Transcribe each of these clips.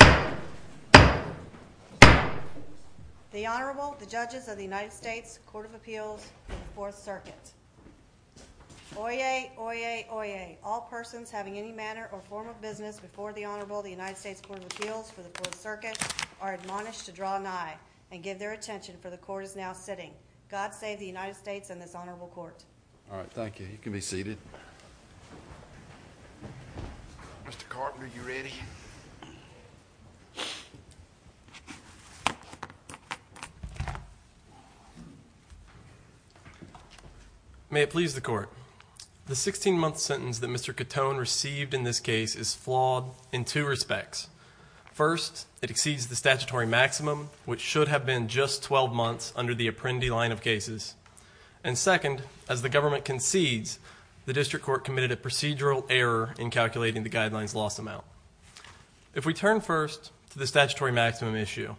The Honorable, the Judges of the United States Court of Appeals for the Fourth Circuit. Oyez, oyez, oyez. All persons having any manner or form of business before the Honorable, the United States Court of Appeals for the Fourth Circuit, are admonished to draw an eye and give their attention, for the Court is now sitting. God save the United States and this Honorable Court. All right, thank you. You can be seated. Mr. Carpenter, are you ready? May it please the Court. The 16-month sentence that Mr. Catone received in this case is flawed in two respects. First, it exceeds the statutory maximum, which should have been just 12 months under the Apprendi line of cases. And second, as the government concedes, the district court committed a procedural error in calculating the guidelines loss amount. If we turn first to the statutory maximum issue,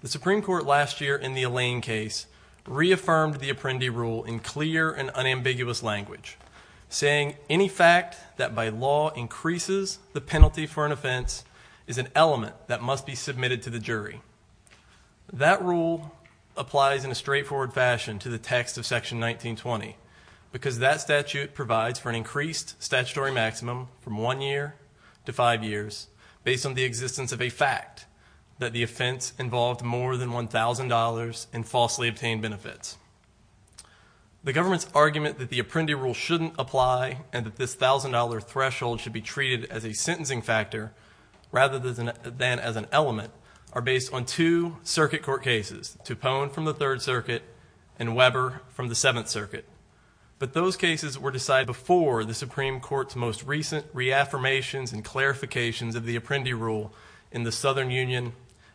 the Supreme Court last year in the Allain case reaffirmed the Apprendi rule in clear and unambiguous language, saying any fact that by law increases the penalty for an offense is an element that must be submitted to the jury. That rule applies in a straightforward fashion to the text of Section 1920, because that statute provides for an increased statutory maximum from one year to five years, based on the existence of a fact that the offense involved more than $1,000 in falsely obtained benefits. The government's argument that the Apprendi rule shouldn't apply and that this $1,000 threshold should be treated as a sentencing factor, rather than as an element, are based on two circuit court cases, Toupon from the Third Circuit and Weber from the Seventh Circuit. But those cases were decided before the Supreme Court's most recent reaffirmations and clarifications of the Apprendi rule in the Southern Union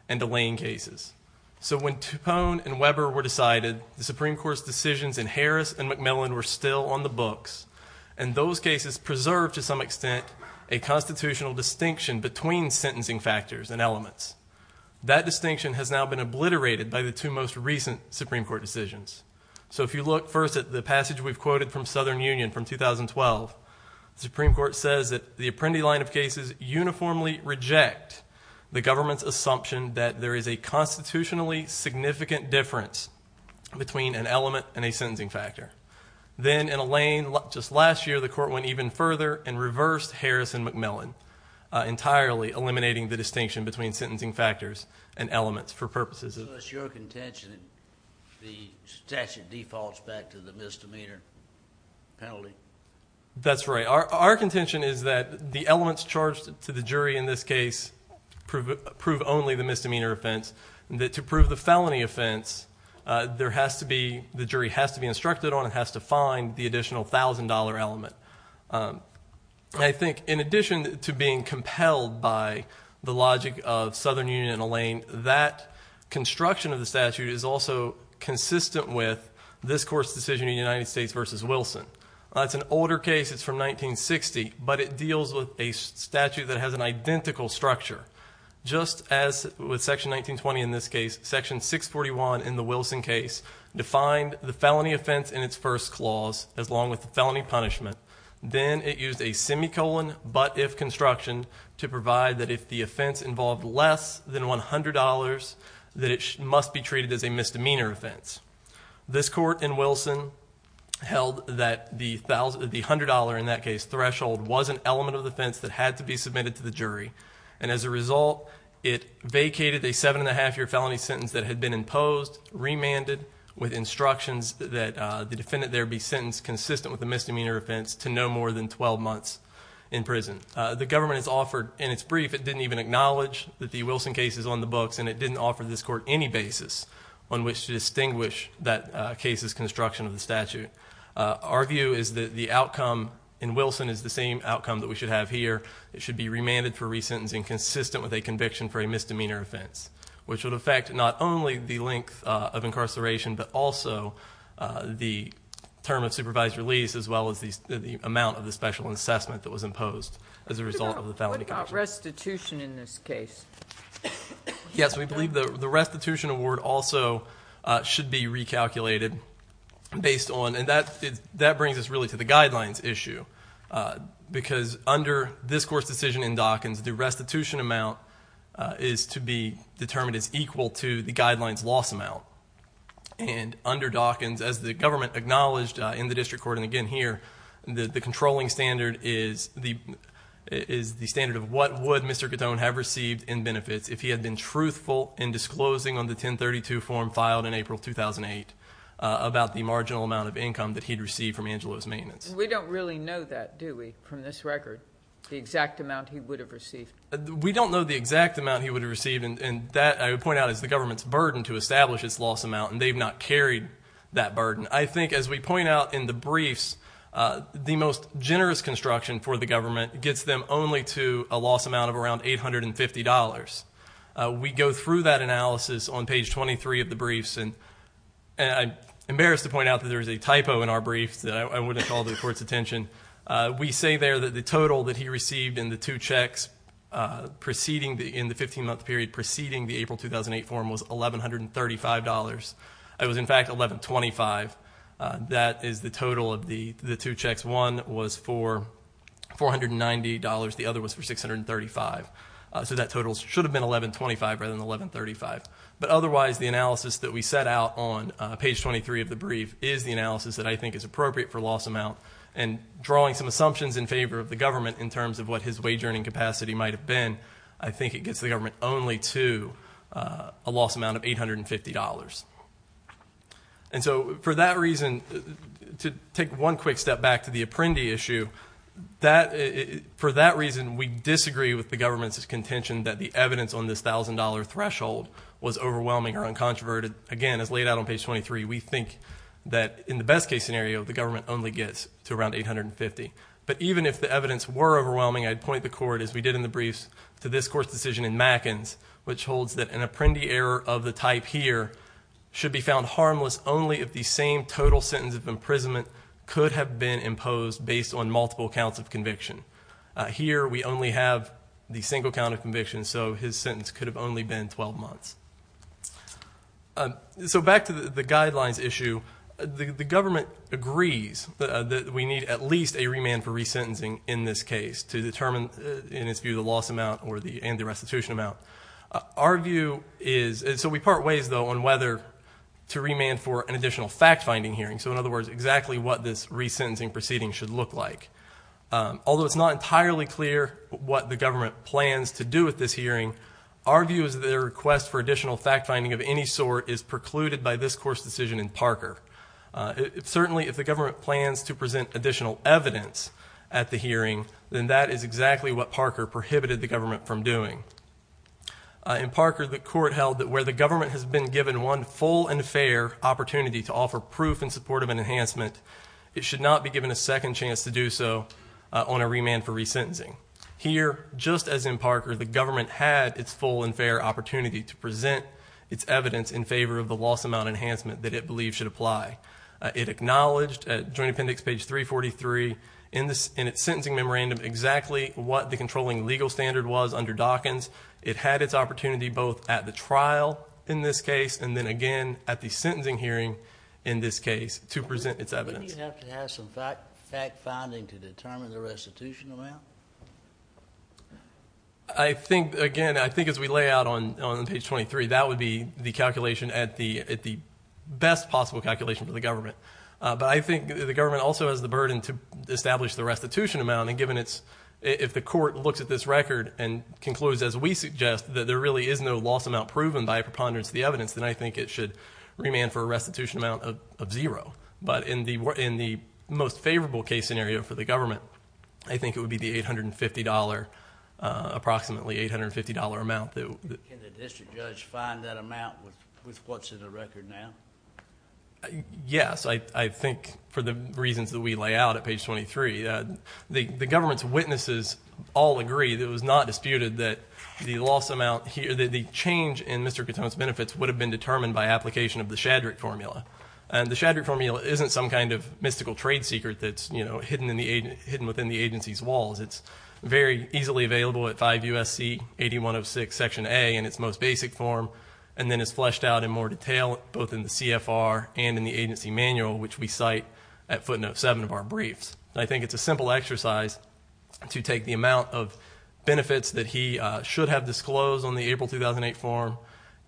and Allain cases. So when Toupon and Weber were decided, the Supreme Court's decisions in Harris and McMillan were still on the books, and those cases preserved to some extent a constitutional distinction between sentencing factors and elements. That distinction has now been obliterated by the two most recent Supreme Court decisions. So if you look first at the passage we've quoted from Southern Union from 2012, the Supreme Court says that the Apprendi line of cases uniformly reject the government's assumption that there is a constitutionally significant difference between an element and a sentencing factor. Then in Allain, just last year, the court went even further and reversed Harris and McMillan, entirely eliminating the distinction between sentencing factors and elements for purposes of— So it's your contention that the statute defaults back to the misdemeanor penalty? That's right. Our contention is that the elements charged to the jury in this case prove only the misdemeanor offense. To prove the felony offense, the jury has to be instructed on and has to find the additional $1,000 element. I think in addition to being compelled by the logic of Southern Union and Allain, that construction of the statute is also consistent with this court's decision in United States v. Wilson. It's an older case. It's from 1960, but it deals with a statute that has an identical structure. Just as with section 1920 in this case, section 641 in the Wilson case defined the felony offense in its first clause, along with the felony punishment, then it used a semicolon but if construction to provide that if the offense involved less than $100, that it must be treated as a misdemeanor offense. This court in Wilson held that the $100 in that case threshold was an element of the offense that had to be submitted to the jury. And as a result, it vacated a seven and a half year felony sentence that had been imposed, remanded with instructions that the defendant there be sentenced consistent with the misdemeanor offense to no more than 12 months in prison. The government has offered, in its brief, it didn't even acknowledge that the Wilson case is on the books, and it didn't offer this court any basis on which to distinguish that case's construction of the statute. Our view is that the outcome in Wilson is the same outcome that we should have here. It should be remanded for re-sentencing consistent with a conviction for a misdemeanor offense, which would affect not only the length of incarceration, but also the term of supervised release, as well as the amount of the special assessment that was imposed as a result of the felony conviction. What about restitution in this case? Yes, we believe the restitution award also should be recalculated based on, and that brings us really to the guidelines issue, because under this court's decision in Dawkins, the restitution amount is to be determined as equal to the guidelines loss amount. And under Dawkins, as the government acknowledged in the district court, and again here, the controlling standard is the standard of what would Mr. Catone have received in benefits if he had been truthful in disclosing on the 1032 form filed in April 2008 about the marginal amount of income that he'd received from Angelo's maintenance. We don't really know that, do we, from this record, the exact amount he would have received. We don't know the exact amount he would have received, and that I would point out is the government's burden to establish its loss amount, and they've not carried that burden. I think as we point out in the briefs, the most generous construction for the government gets them only to a loss amount of around $850. We go through that analysis on page 23 of the briefs, and I'm embarrassed to point out that there is a typo in our briefs that I wouldn't call the court's attention. We say there that the total that he received in the two checks in the 15-month period preceding the April 2008 form was $1,135. It was, in fact, $1,125. That is the total of the two checks. One was for $490. The other was for $635. So that total should have been $1,125 rather than $1,135. But otherwise, the analysis that we set out on page 23 of the brief is the analysis that I think is appropriate for loss amount, and drawing some assumptions in favor of the government in terms of what his wage earning capacity might have been, I think it gets the government only to a loss amount of $850. And so for that reason, to take one quick step back to the Apprendi issue, for that reason, we disagree with the government's contention that the evidence on this $1,000 threshold was overwhelming or uncontroverted. Again, as laid out on page 23, we think that in the best-case scenario, the government only gets to around $850. But even if the evidence were overwhelming, I'd point the court, as we did in the briefs, to this court's decision in Mackens, which holds that an Apprendi error of the type here should be found harmless only if the same total sentence of imprisonment could have been imposed based on multiple counts of conviction. Here, we only have the single count of conviction, so his sentence could have only been 12 months. So back to the guidelines issue, the government agrees that we need at least a remand for resentencing in this case to determine, in its view, the loss amount and the restitution amount. Our view is, and so we part ways, though, on whether to remand for an additional fact-finding hearing, so in other words, exactly what this resentencing proceeding should look like. Although it's not entirely clear what the government plans to do with this hearing, our view is that a request for additional fact-finding of any sort is precluded by this court's decision in Parker. Certainly, if the government plans to present additional evidence at the hearing, then that is exactly what Parker prohibited the government from doing. In Parker, the court held that where the government has been given one full and fair opportunity to offer proof in support of an enhancement, it should not be given a second chance to do so on a remand for resentencing. Here, just as in Parker, the government had its full and fair opportunity to present its evidence in favor of the loss amount enhancement that it believes should apply. It acknowledged at Joint Appendix page 343 in its sentencing memorandum exactly what the controlling legal standard was under Dawkins. It had its opportunity both at the trial in this case and then again at the sentencing hearing in this case to present its evidence. Wouldn't you have to have some fact-finding to determine the restitution amount? I think, again, I think as we lay out on page 23, that would be the calculation at the best possible calculation for the government. But I think the government also has the burden to establish the restitution amount, and if the court looks at this record and concludes, as we suggest, that there really is no loss amount proven by a preponderance of the evidence, then I think it should remand for a restitution amount of zero. But in the most favorable case scenario for the government, I think it would be the $850, approximately $850 amount. Can the district judge find that amount with what's in the record now? Yes, I think for the reasons that we lay out at page 23. The government's witnesses all agree that it was not disputed that the loss amount here, that the change in Mr. Katone's benefits would have been determined by application of the Shadrick formula. And the Shadrick formula isn't some kind of mystical trade secret that's hidden within the agency's walls. It's very easily available at 5 U.S.C. 8106 Section A in its most basic form, and then it's fleshed out in more detail both in the CFR and in the agency manual, which we cite at footnote 7 of our briefs. I think it's a simple exercise to take the amount of benefits that he should have disclosed on the April 2008 form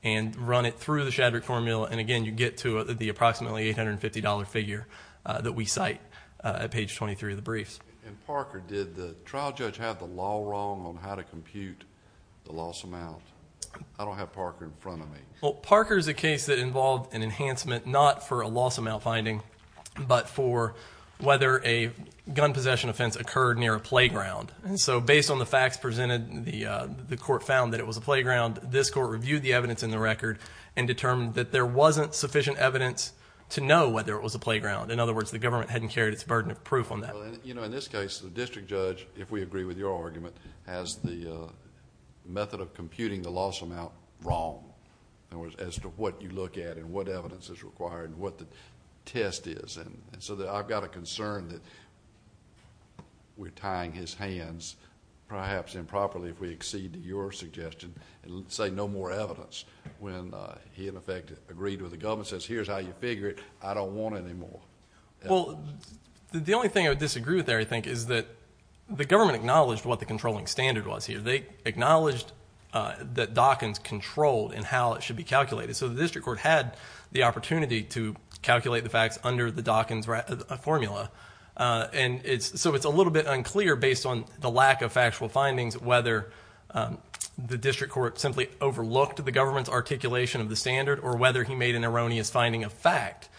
and run it through the Shadrick formula. And, again, you get to the approximately $850 figure that we cite at page 23 of the briefs. And, Parker, did the trial judge have the law wrong on how to compute the loss amount? I don't have Parker in front of me. Well, Parker's a case that involved an enhancement not for a loss amount finding but for whether a gun possession offense occurred near a playground. And so based on the facts presented, the court found that it was a playground. This court reviewed the evidence in the record and determined that there wasn't sufficient evidence to know whether it was a playground. In other words, the government hadn't carried its burden of proof on that. In this case, the district judge, if we agree with your argument, has the method of computing the loss amount wrong as to what you look at and what evidence is required and what the test is. And so I've got a concern that we're tying his hands, perhaps improperly if we exceed your suggestion, and say no more evidence when he, in effect, agreed with the government, says here's how you figure it, I don't want any more. Well, the only thing I would disagree with there, I think, is that the government acknowledged what the controlling standard was here. They acknowledged that Dawkins controlled in how it should be calculated. So the district court had the opportunity to calculate the facts under the Dawkins formula. And so it's a little bit unclear, based on the lack of factual findings, whether the district court simply overlooked the government's articulation of the standard or whether he made an erroneous finding of fact.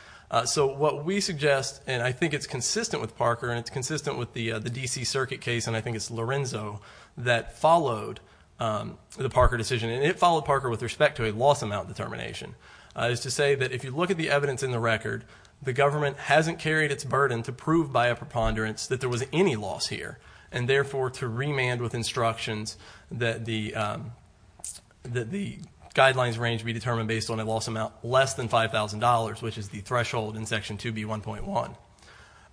So what we suggest, and I think it's consistent with Parker and it's consistent with the D.C. Circuit case, and I think it's Lorenzo that followed the Parker decision, and it followed Parker with respect to a loss amount determination, is to say that if you look at the evidence in the record, the government hasn't carried its burden to prove by a preponderance that there was any loss here and therefore to remand with instructions that the guidelines range be determined based on a loss amount less than $5,000, which is the threshold in Section 2B1.1.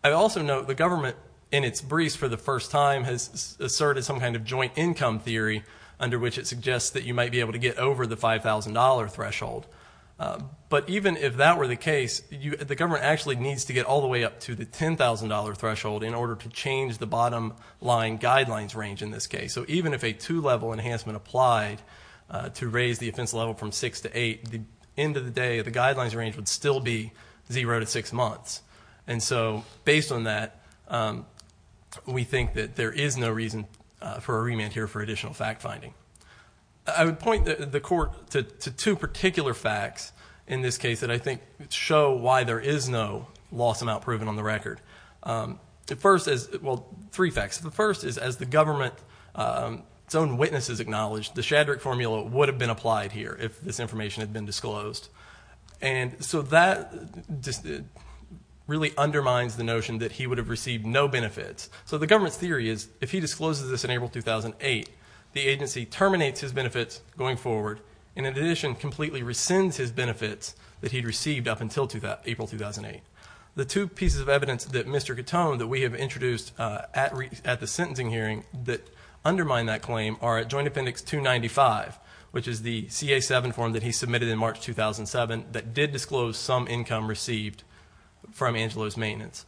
I also note the government, in its briefs for the first time, has asserted some kind of joint income theory under which it suggests that you might be able to get over the $5,000 threshold. But even if that were the case, the government actually needs to get all the way up to the $10,000 threshold in order to change the bottom line guidelines range in this case. So even if a two-level enhancement applied to raise the offense level from six to eight, the end of the day, the guidelines range would still be zero to six months. And so based on that, we think that there is no reason for a remand here for additional fact finding. I would point the Court to two particular facts in this case that I think show why there is no loss amount proven on the record. The first is, well, three facts. The first is, as the government's own witnesses acknowledged, the Shadrach formula would have been applied here if this information had been disclosed. And so that really undermines the notion that he would have received no benefits. So the government's theory is, if he discloses this in April 2008, the agency terminates his benefits going forward and, in addition, completely rescinds his benefits that he had received up until April 2008. The two pieces of evidence that Mr. Catone, that we have introduced at the sentencing hearing, that undermine that claim are at Joint Appendix 295, which is the CA-7 form that he submitted in March 2007 that did disclose some income received from Angelo's maintenance.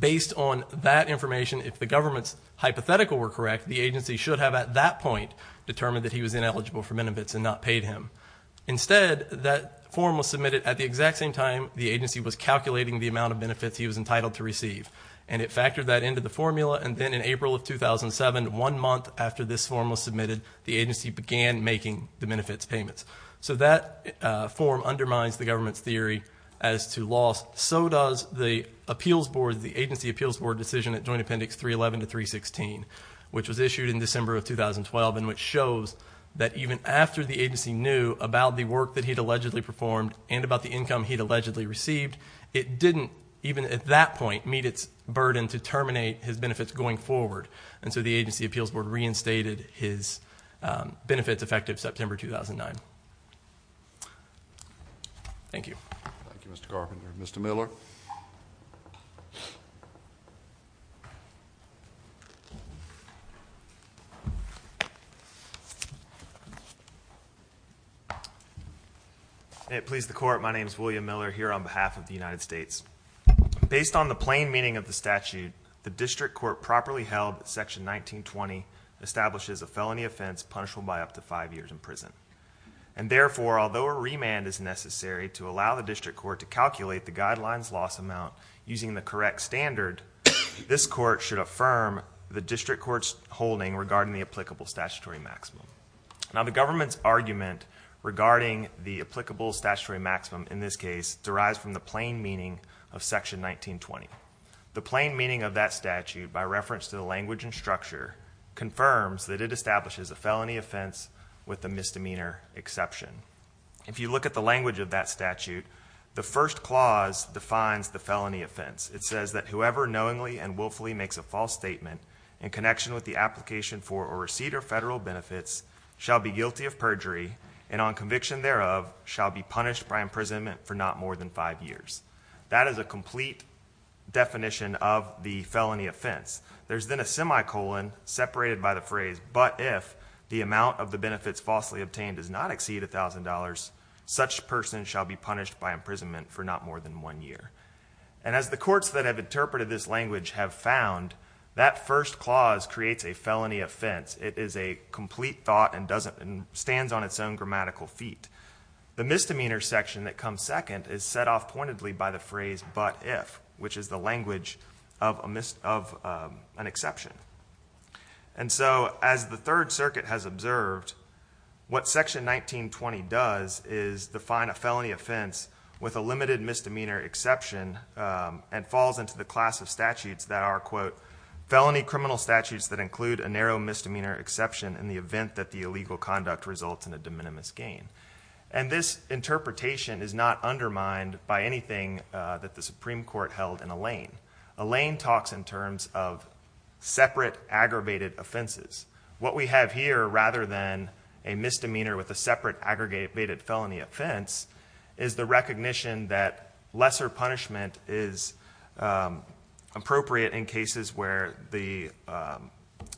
Based on that information, if the government's hypothetical were correct, the agency should have, at that point, determined that he was ineligible for benefits and not paid him. Instead, that form was submitted at the exact same time the agency was calculating the amount of benefits he was entitled to receive. And it factored that into the formula, and then in April of 2007, one month after this form was submitted, the agency began making the benefits payments. So that form undermines the government's theory as to loss. So does the appeals board, the agency appeals board decision at Joint Appendix 311 to 316, which was issued in December of 2012 and which shows that even after the agency knew about the work that he'd allegedly performed and about the income he'd allegedly received, it didn't, even at that point, meet its burden to terminate his benefits going forward. And so the agency appeals board reinstated his benefits effective September 2009. Thank you. Thank you, Mr. Carpenter. Mr. Miller? May it please the court, my name is William Miller here on behalf of the United States. Based on the plain meaning of the statute, the district court properly held that Section 1920 establishes a felony offense punishable by up to five years in prison. And therefore, although a remand is necessary to allow the district court to calculate the guidelines loss amount using the correct standard, this court should affirm the district court's holding regarding the applicable statutory maximum. Now the government's argument regarding the applicable statutory maximum in this case derives from the plain meaning of Section 1920. The plain meaning of that statute, by reference to the language and structure, confirms that it establishes a felony offense with a misdemeanor exception. If you look at the language of that statute, the first clause defines the felony offense. It says that whoever knowingly and willfully makes a false statement in connection with the application for or receipt of federal benefits shall be guilty of perjury and on conviction thereof shall be punished by imprisonment for not more than five years. That is a complete definition of the felony offense. There's then a semicolon separated by the phrase, but if the amount of the benefits falsely obtained does not exceed $1,000, such person shall be punished by imprisonment for not more than one year. And as the courts that have interpreted this language have found, that first clause creates a felony offense. It is a complete thought and stands on its own grammatical feet. The misdemeanor section that comes second is set off pointedly by the phrase, but if, which is the language of an exception. And so as the Third Circuit has observed, what section 1920 does is define a felony offense with a limited misdemeanor exception and falls into the class of statutes that are, quote, felony criminal statutes that include a narrow misdemeanor exception in the event that the illegal conduct results in a de minimis gain. And this interpretation is not undermined by anything that the Supreme Court held in Alain. Alain talks in terms of separate aggravated offenses. What we have here, rather than a misdemeanor with a separate aggregated felony offense, is the recognition that lesser punishment is appropriate in cases where the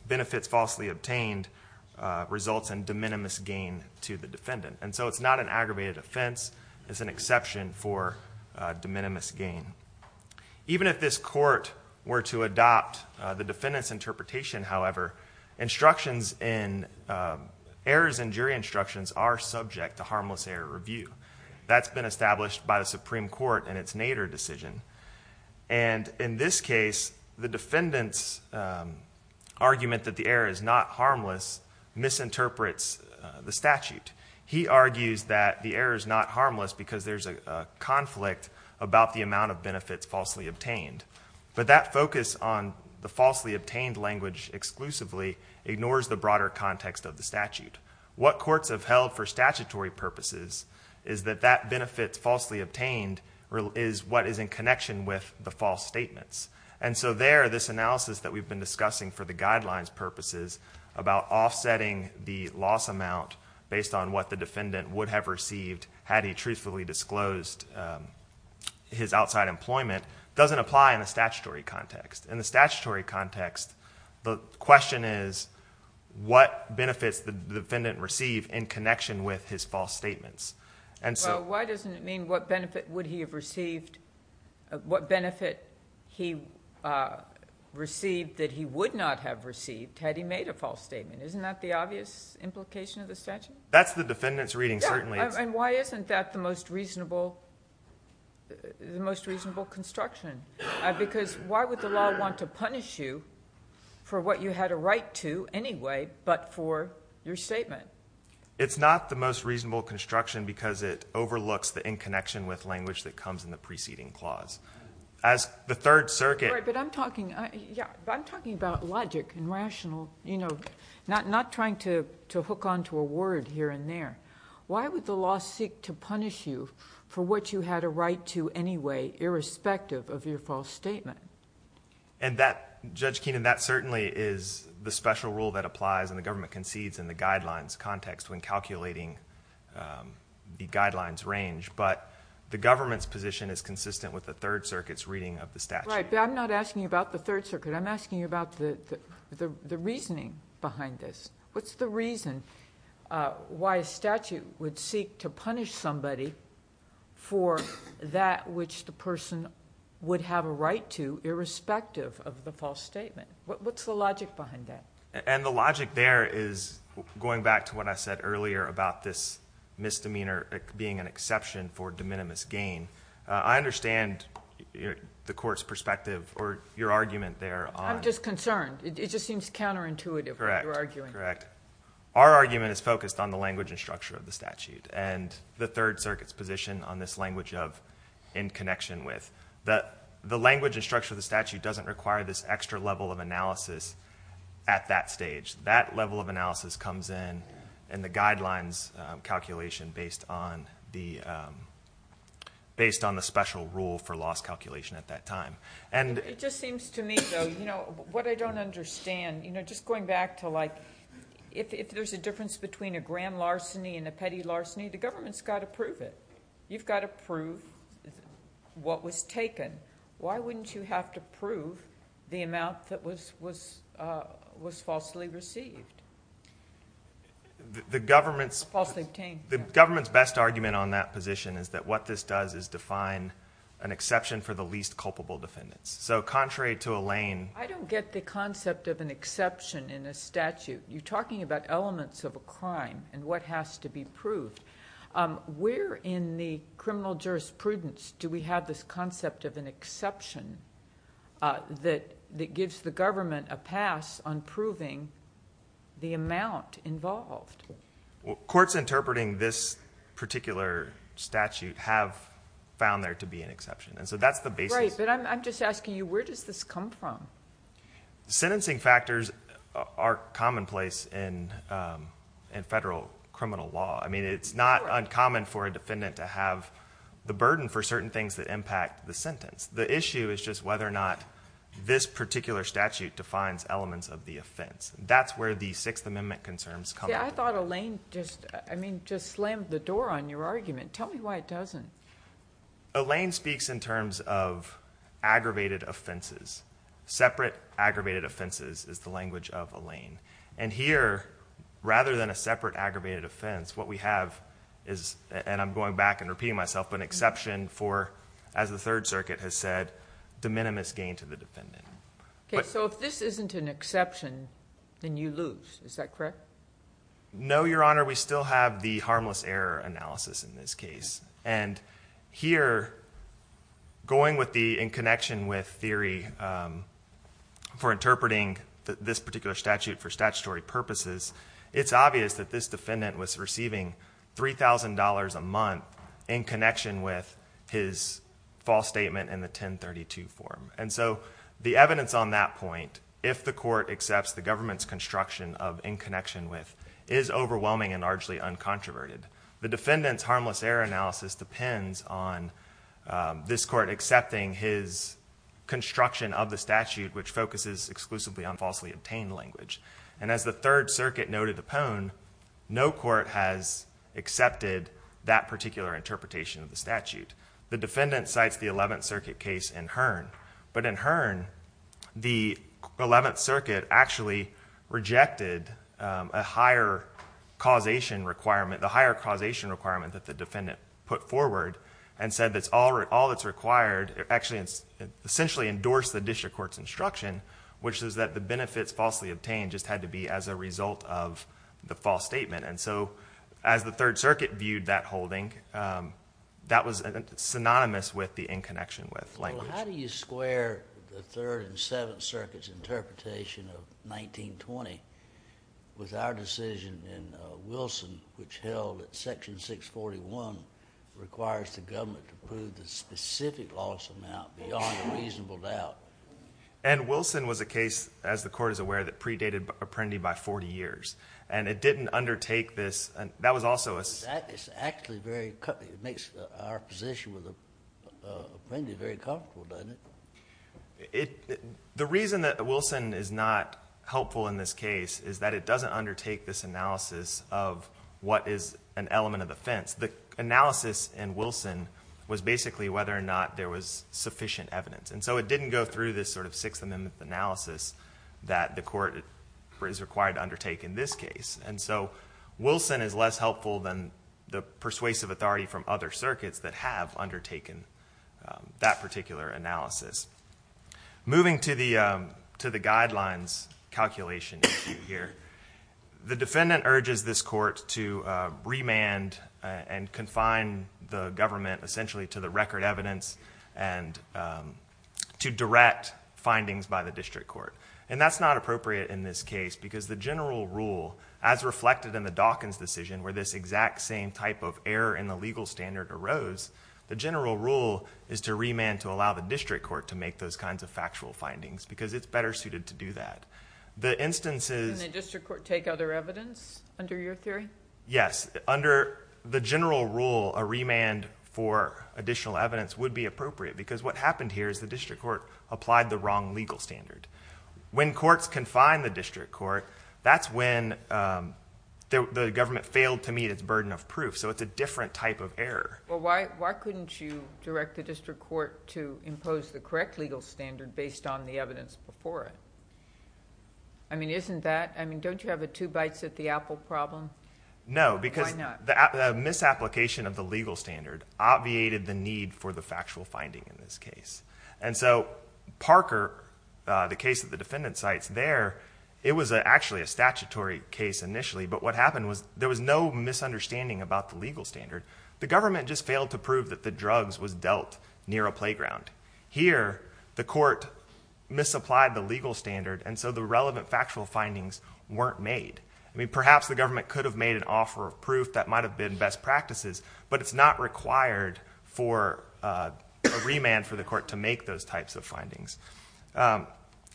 benefits falsely obtained results in de minimis gain to the defendant. And so it's not an aggravated offense. It's an exception for de minimis gain. Even if this court were to adopt the defendant's interpretation, however, instructions in, errors in jury instructions are subject to harmless error review. That's been established by the Supreme Court in its Nader decision. And in this case, the defendant's argument that the error is not harmless misinterprets the statute. He argues that the error is not harmless because there's a conflict about the amount of benefits falsely obtained. But that focus on the falsely obtained language exclusively ignores the broader context of the statute. What courts have held for statutory purposes is that that benefit falsely obtained is what is in connection with the false statements. And so there, this analysis that we've been discussing for the guidelines purposes about offsetting the loss amount based on what the defendant would have received had he truthfully disclosed his outside employment doesn't apply in the statutory context. In the statutory context, the question is, what benefits did the defendant receive in connection with his false statements? Well, why doesn't it mean what benefit would he have received, what benefit he received that he would not have received had he made a false statement? Isn't that the obvious implication of the statute? That's the defendant's reading, certainly. And why isn't that the most reasonable construction? Because why would the law want to punish you for what you had a right to anyway but for your statement? It's not the most reasonable construction because it overlooks the in-connection with language that comes in the preceding clause. As the Third Circuit... Right, but I'm talking about logic and rational, you know, not trying to hook onto a word here and there. Why would the law seek to punish you for what you had a right to anyway, irrespective of your false statement? And that, Judge Keenan, that certainly is the special rule that applies and the government concedes in the guidelines context when calculating the guidelines range. But the government's position is consistent with the Third Circuit's reading of the statute. Right, but I'm not asking you about the Third Circuit. I'm asking you about the reasoning behind this. What's the reason why a statute would seek to punish somebody for that which the person would have a right to, irrespective of the false statement? What's the logic behind that? And the logic there is going back to what I said earlier about this misdemeanor being an exception for de minimis gain. I understand the court's perspective or your argument there on... I'm just concerned. It just seems counterintuitive, what you're arguing. Correct, correct. Our argument is focused on the language and structure of the statute and the Third Circuit's position on this language of in connection with. The language and structure of the statute doesn't require this extra level of analysis at that stage. That level of analysis comes in in the guidelines calculation based on the special rule for loss calculation at that time. It just seems to me, though, what I don't understand, just going back to if there's a difference between a grand larceny and a petty larceny, the government's got to prove it. You've got to prove what was taken. Why wouldn't you have to prove the amount that was falsely received? Falsely obtained. The government's best argument on that position is that what this does is define an exception for the least culpable defendants. Contrary to Elaine... I don't get the concept of an exception in a statute. You're talking about elements of a crime and what has to be proved. Where in the criminal jurisprudence do we have this concept of an exception that gives the government a pass on proving the amount involved? Courts interpreting this particular statute have found there to be an exception, and so that's the basis. Right, but I'm just asking you, where does this come from? Sentencing factors are commonplace in federal criminal law. I mean, it's not uncommon for a defendant to have the burden for certain things that impact the sentence. The issue is just whether or not this particular statute defines elements of the offense. I thought Elaine just slammed the door on your argument. Tell me why it doesn't. Elaine speaks in terms of aggravated offenses. Separate aggravated offenses is the language of Elaine. And here, rather than a separate aggravated offense, what we have is, and I'm going back and repeating myself, an exception for, as the Third Circuit has said, de minimis gain to the defendant. Okay, so if this isn't an exception, then you lose. Is that correct? No, Your Honor. We still have the harmless error analysis in this case. And here, going with the in connection with theory for interpreting this particular statute for statutory purposes, it's obvious that this defendant was receiving $3,000 a month in connection with his false statement in the 1032 form. And so the evidence on that point, if the court accepts the government's construction of in connection with, is overwhelming and largely uncontroverted. The defendant's harmless error analysis depends on this court accepting his construction of the statute, which focuses exclusively on falsely obtained language. And as the Third Circuit noted upon, no court has accepted that particular interpretation of the statute. The defendant cites the Eleventh Circuit case in Hearn. But in Hearn, the Eleventh Circuit actually rejected a higher causation requirement, the higher causation requirement that the defendant put forward, and said that all that's required essentially endorsed the district court's instruction, which is that the benefits falsely obtained just had to be as a result of the false statement. And so as the Third Circuit viewed that holding, that was synonymous with the in connection with language. Well, how do you square the Third and Seventh Circuit's interpretation of 1920 with our decision in Wilson which held that Section 641 requires the government to prove the specific loss amount beyond reasonable doubt? And Wilson was a case, as the court is aware, that predated Apprendi by 40 years. And it didn't undertake this. That was also a — It's actually very — it makes our position with Apprendi very colorful, doesn't it? The reason that Wilson is not helpful in this case is that it doesn't undertake this analysis of what is an element of offense. The analysis in Wilson was basically whether or not there was sufficient evidence. And so it didn't go through this sort of Sixth Amendment analysis that the court is required to undertake. In this case. And so Wilson is less helpful than the persuasive authority from other circuits that have undertaken that particular analysis. Moving to the guidelines calculation issue here, the defendant urges this court to remand and confine the government essentially to the record evidence and to direct findings by the district court. And that's not appropriate in this case because the general rule, as reflected in the Dawkins decision where this exact same type of error in the legal standard arose, the general rule is to remand to allow the district court to make those kinds of factual findings because it's better suited to do that. The instances — Can the district court take other evidence under your theory? Yes. Under the general rule, a remand for additional evidence would be appropriate because what happened here is the district court applied the wrong legal standard. When courts confine the district court, that's when the government failed to meet its burden of proof. So it's a different type of error. Well, why couldn't you direct the district court to impose the correct legal standard based on the evidence before it? I mean, isn't that — I mean, don't you have a two bites at the apple problem? No. Why not? The misapplication of the legal standard obviated the need for the factual finding in this case. And so Parker, the case that the defendant cites there, it was actually a statutory case initially, but what happened was there was no misunderstanding about the legal standard. The government just failed to prove that the drugs was dealt near a playground. Here, the court misapplied the legal standard, and so the relevant factual findings weren't made. I mean, perhaps the government could have made an offer of proof that might have been best practices, but it's not required for a remand for the court to make those types of findings.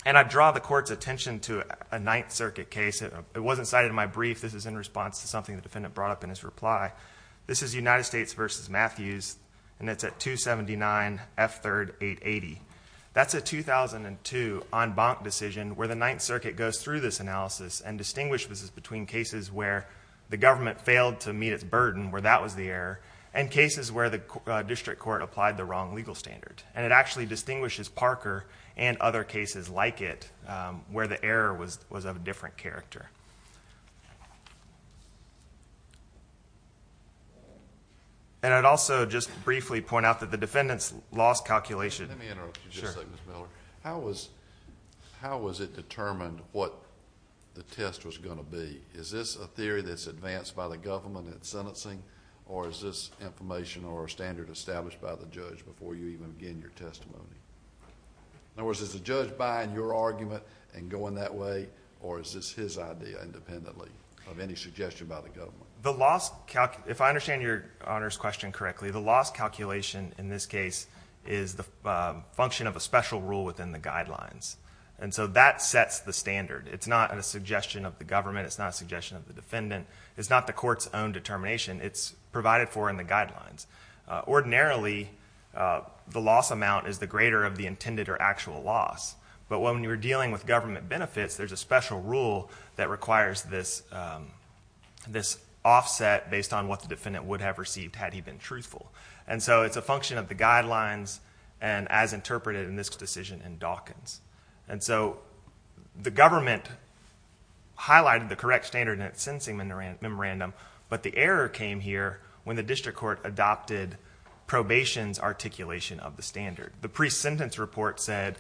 And I draw the court's attention to a Ninth Circuit case. It wasn't cited in my brief. This is in response to something the defendant brought up in his reply. This is United States v. Matthews, and it's at 279 F. 3rd. 880. That's a 2002 en banc decision where the Ninth Circuit goes through this analysis and distinguishes between cases where the government failed to meet its burden, where that was the error, and cases where the district court applied the wrong legal standard. And it actually distinguishes Parker and other cases like it where the error was of a different character. And I'd also just briefly point out that the defendant's loss calculation Let me interrupt you just a second, Mr. Miller. How was it determined what the test was going to be? Is this a theory that's advanced by the government in sentencing, or is this information or a standard established by the judge before you even begin your testimony? In other words, is the judge buying your argument and going that way, or is this his idea independently of any suggestion by the government? If I understand Your Honor's question correctly, the loss calculation in this case is the function of a special rule within the guidelines, and so that sets the standard. It's not a suggestion of the government. It's not a suggestion of the defendant. It's not the court's own determination. It's provided for in the guidelines. Ordinarily, the loss amount is the greater of the intended or actual loss, but when you're dealing with government benefits, there's a special rule that requires this offset based on what the defendant would have received had he been truthful. And so it's a function of the guidelines and as interpreted in this decision in Dawkins. And so the government highlighted the correct standard in its sentencing memorandum, but the error came here when the district court adopted probation's articulation of the standard. The pre-sentence report said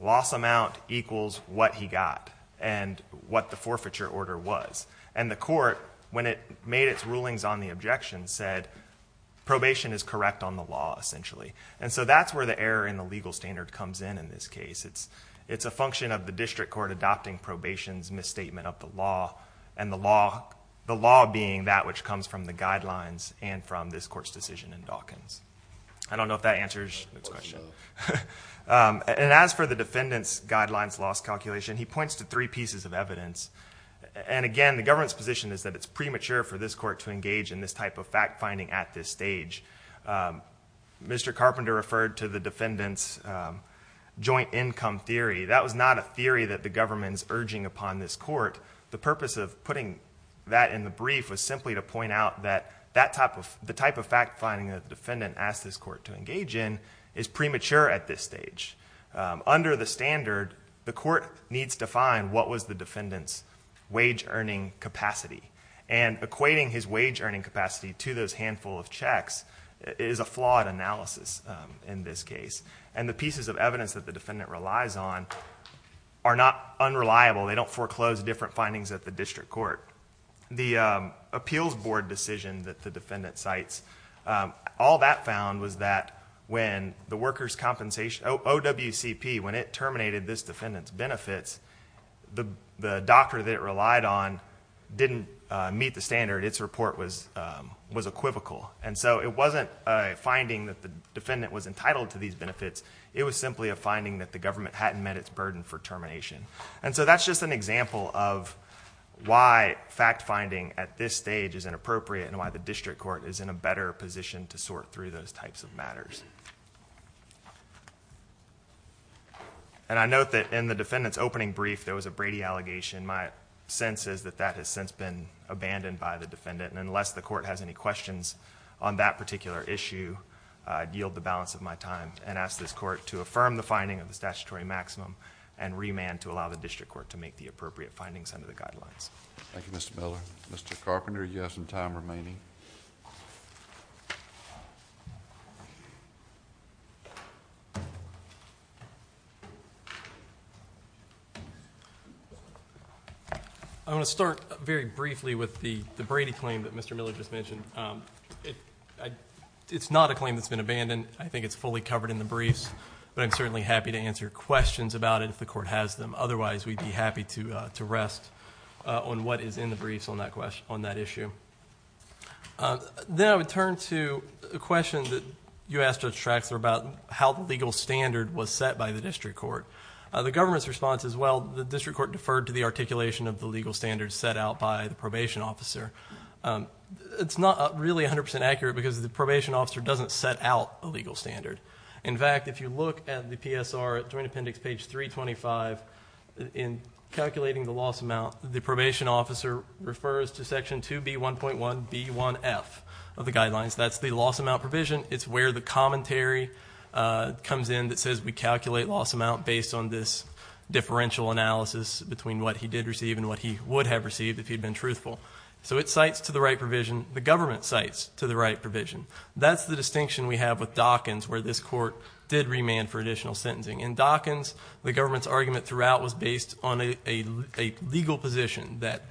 loss amount equals what he got and what the forfeiture order was. And the court, when it made its rulings on the objection, said probation is correct on the law essentially. And so that's where the error in the legal standard comes in in this case. It's a function of the district court adopting probation's misstatement of the law, and the law being that which comes from the guidelines and from this court's decision in Dawkins. I don't know if that answers the question. And as for the defendant's guidelines loss calculation, he points to three pieces of evidence. And again, the government's position is that it's premature for this court to engage in this type of fact-finding at this stage. Mr. Carpenter referred to the defendant's joint income theory. That was not a theory that the government is urging upon this court. The purpose of putting that in the brief was simply to point out that the type of fact-finding that the defendant asked this court to engage in is premature at this stage. Under the standard, the court needs to find what was the defendant's wage-earning capacity. And equating his wage-earning capacity to those handful of checks is a flawed analysis in this case. And the pieces of evidence that the defendant relies on are not unreliable. They don't foreclose different findings at the district court. The appeals board decision that the defendant cites, all that found was that when the workers' compensation, OWCP, when it terminated this defendant's benefits, the doctor that it relied on didn't meet the standard. Its report was equivocal. And so it wasn't a finding that the defendant was entitled to these benefits. It was simply a finding that the government hadn't met its burden for termination. And so that's just an example of why fact-finding at this stage is inappropriate and why the district court is in a better position to sort through those types of matters. And I note that in the defendant's opening brief, there was a Brady allegation. My sense is that that has since been abandoned by the defendant. And unless the court has any questions on that particular issue, I'd yield the balance of my time and ask this court to affirm the finding of the statutory maximum and remand to allow the district court to make the appropriate findings under the guidelines. Thank you, Mr. Miller. Mr. Carpenter, you have some time remaining. I want to start very briefly with the Brady claim that Mr. Miller just mentioned. It's not a claim that's been abandoned. I think it's fully covered in the briefs. But I'm certainly happy to answer questions about it if the court has them. Otherwise, we'd be happy to rest on what is in the briefs on that issue. Then I would turn to a question that you asked, Judge Traxler, about how the legal standard was set by the district court. The government's response is, well, the district court deferred to the articulation of the legal standards set out by the probation officer. It's not really 100% accurate because the probation officer doesn't set out a legal standard. In fact, if you look at the PSR Joint Appendix, page 325, in calculating the loss amount, the probation officer refers to section 2B1.1B1F of the guidelines. That's the loss amount provision. It's where the commentary comes in that says we calculate loss amount based on this differential analysis between what he did receive and what he would have received if he'd been truthful. So it cites to the right provision. The government cites to the right provision. That's the distinction we have with Dawkins where this court did remand for additional sentencing. In Dawkins, the government's argument throughout was based on a legal position that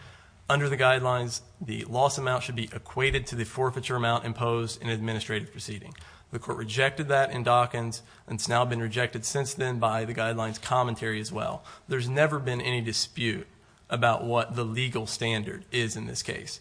under the guidelines, the loss amount should be equated to the forfeiture amount imposed in administrative proceeding. The court rejected that in Dawkins, and it's now been rejected since then by the guidelines commentary as well. There's never been any dispute about what the legal standard is in this case.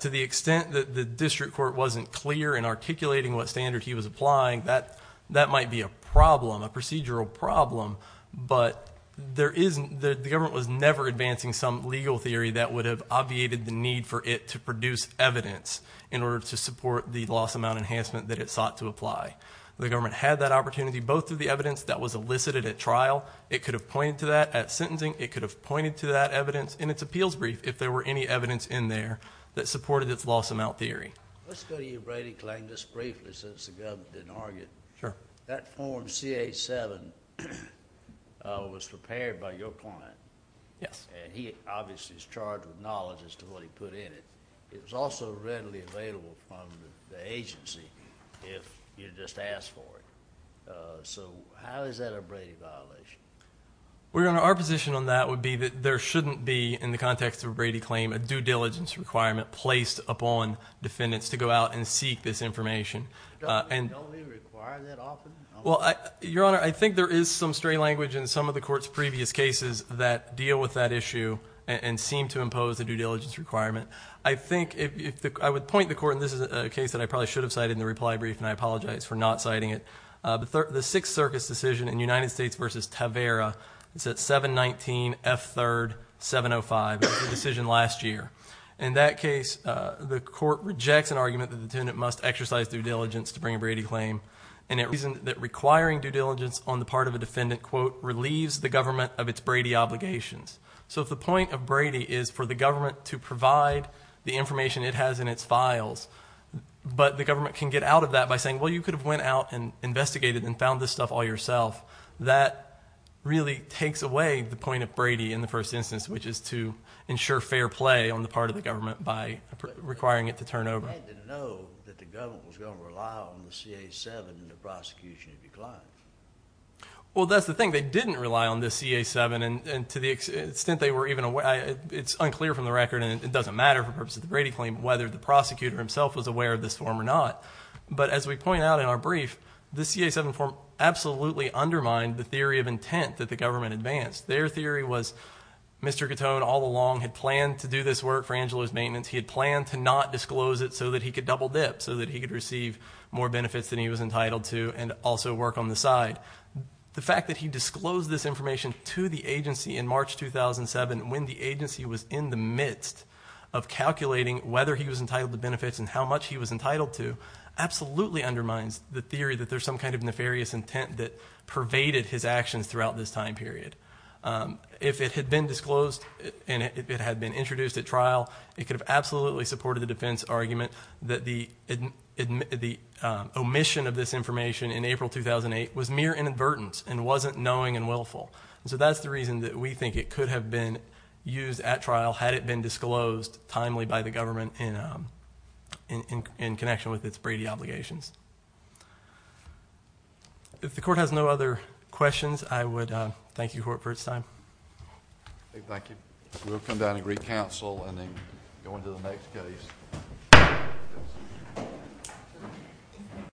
To the extent that the district court wasn't clear in articulating what standard he was applying, that might be a problem, a procedural problem, but the government was never advancing some legal theory that would have obviated the need for it to produce evidence in order to support the loss amount enhancement that it sought to apply. The government had that opportunity, both through the evidence that was elicited at trial. It could have pointed to that at sentencing. It could have pointed to that evidence in its appeals brief if there were any evidence in there that supported its loss amount theory. Let's go to you, Brady, just briefly since the government didn't argue. Sure. That form CA-7 was prepared by your client. Yes. And he obviously is charged with knowledge as to what he put in it. It was also readily available from the agency if you just asked for it. So how is that a Brady violation? Well, Your Honor, our position on that would be that there shouldn't be, in the context of a Brady claim, a due diligence requirement placed upon defendants to go out and seek this information. Don't we require that often? Well, Your Honor, I think there is some stray language in some of the court's previous cases that deal with that issue and seem to impose a due diligence requirement. I would point the court, and this is a case that I probably should have cited in the reply brief and I apologize for not citing it, the Sixth Circus decision in United States v. Tavera, it's at 719F3705, the decision last year. In that case, the court rejects an argument that the detendant must exercise due diligence to bring a Brady claim and it reasons that requiring due diligence on the part of a defendant, quote, relieves the government of its Brady obligations. So if the point of Brady is for the government to provide the information it has in its files, but the government can get out of that by saying, well, you could have went out and investigated and found this stuff all yourself, that really takes away the point of Brady in the first instance, which is to ensure fair play on the part of the government by requiring it to turn over. I didn't know that the government was going to rely on the CA-7 in the prosecution of your client. Well, that's the thing. They didn't rely on the CA-7, and to the extent they were even aware, it's unclear from the record, and it doesn't matter for the purpose of the Brady claim, whether the prosecutor himself was aware of this form or not. But as we point out in our brief, the CA-7 form absolutely undermined the theory of intent that the government advanced. Their theory was Mr. Catone all along had planned to do this work for Angela's maintenance. He had planned to not disclose it so that he could double dip, so that he could receive more benefits than he was entitled to and also work on the side. The fact that he disclosed this information to the agency in March 2007, when the agency was in the midst of calculating whether he was entitled to benefits and how much he was entitled to, absolutely undermines the theory that there's some kind of nefarious intent that pervaded his actions throughout this time period. If it had been disclosed and if it had been introduced at trial, it could have absolutely supported the defense argument that the omission of this information in April 2008 was mere inadvertence and wasn't knowing and willful. So that's the reason that we think it could have been used at trial had it been disclosed timely by the government in connection with its Brady obligations. If the court has no other questions, I would thank you for your time. Thank you. We'll come down and re-counsel and then go into the next case.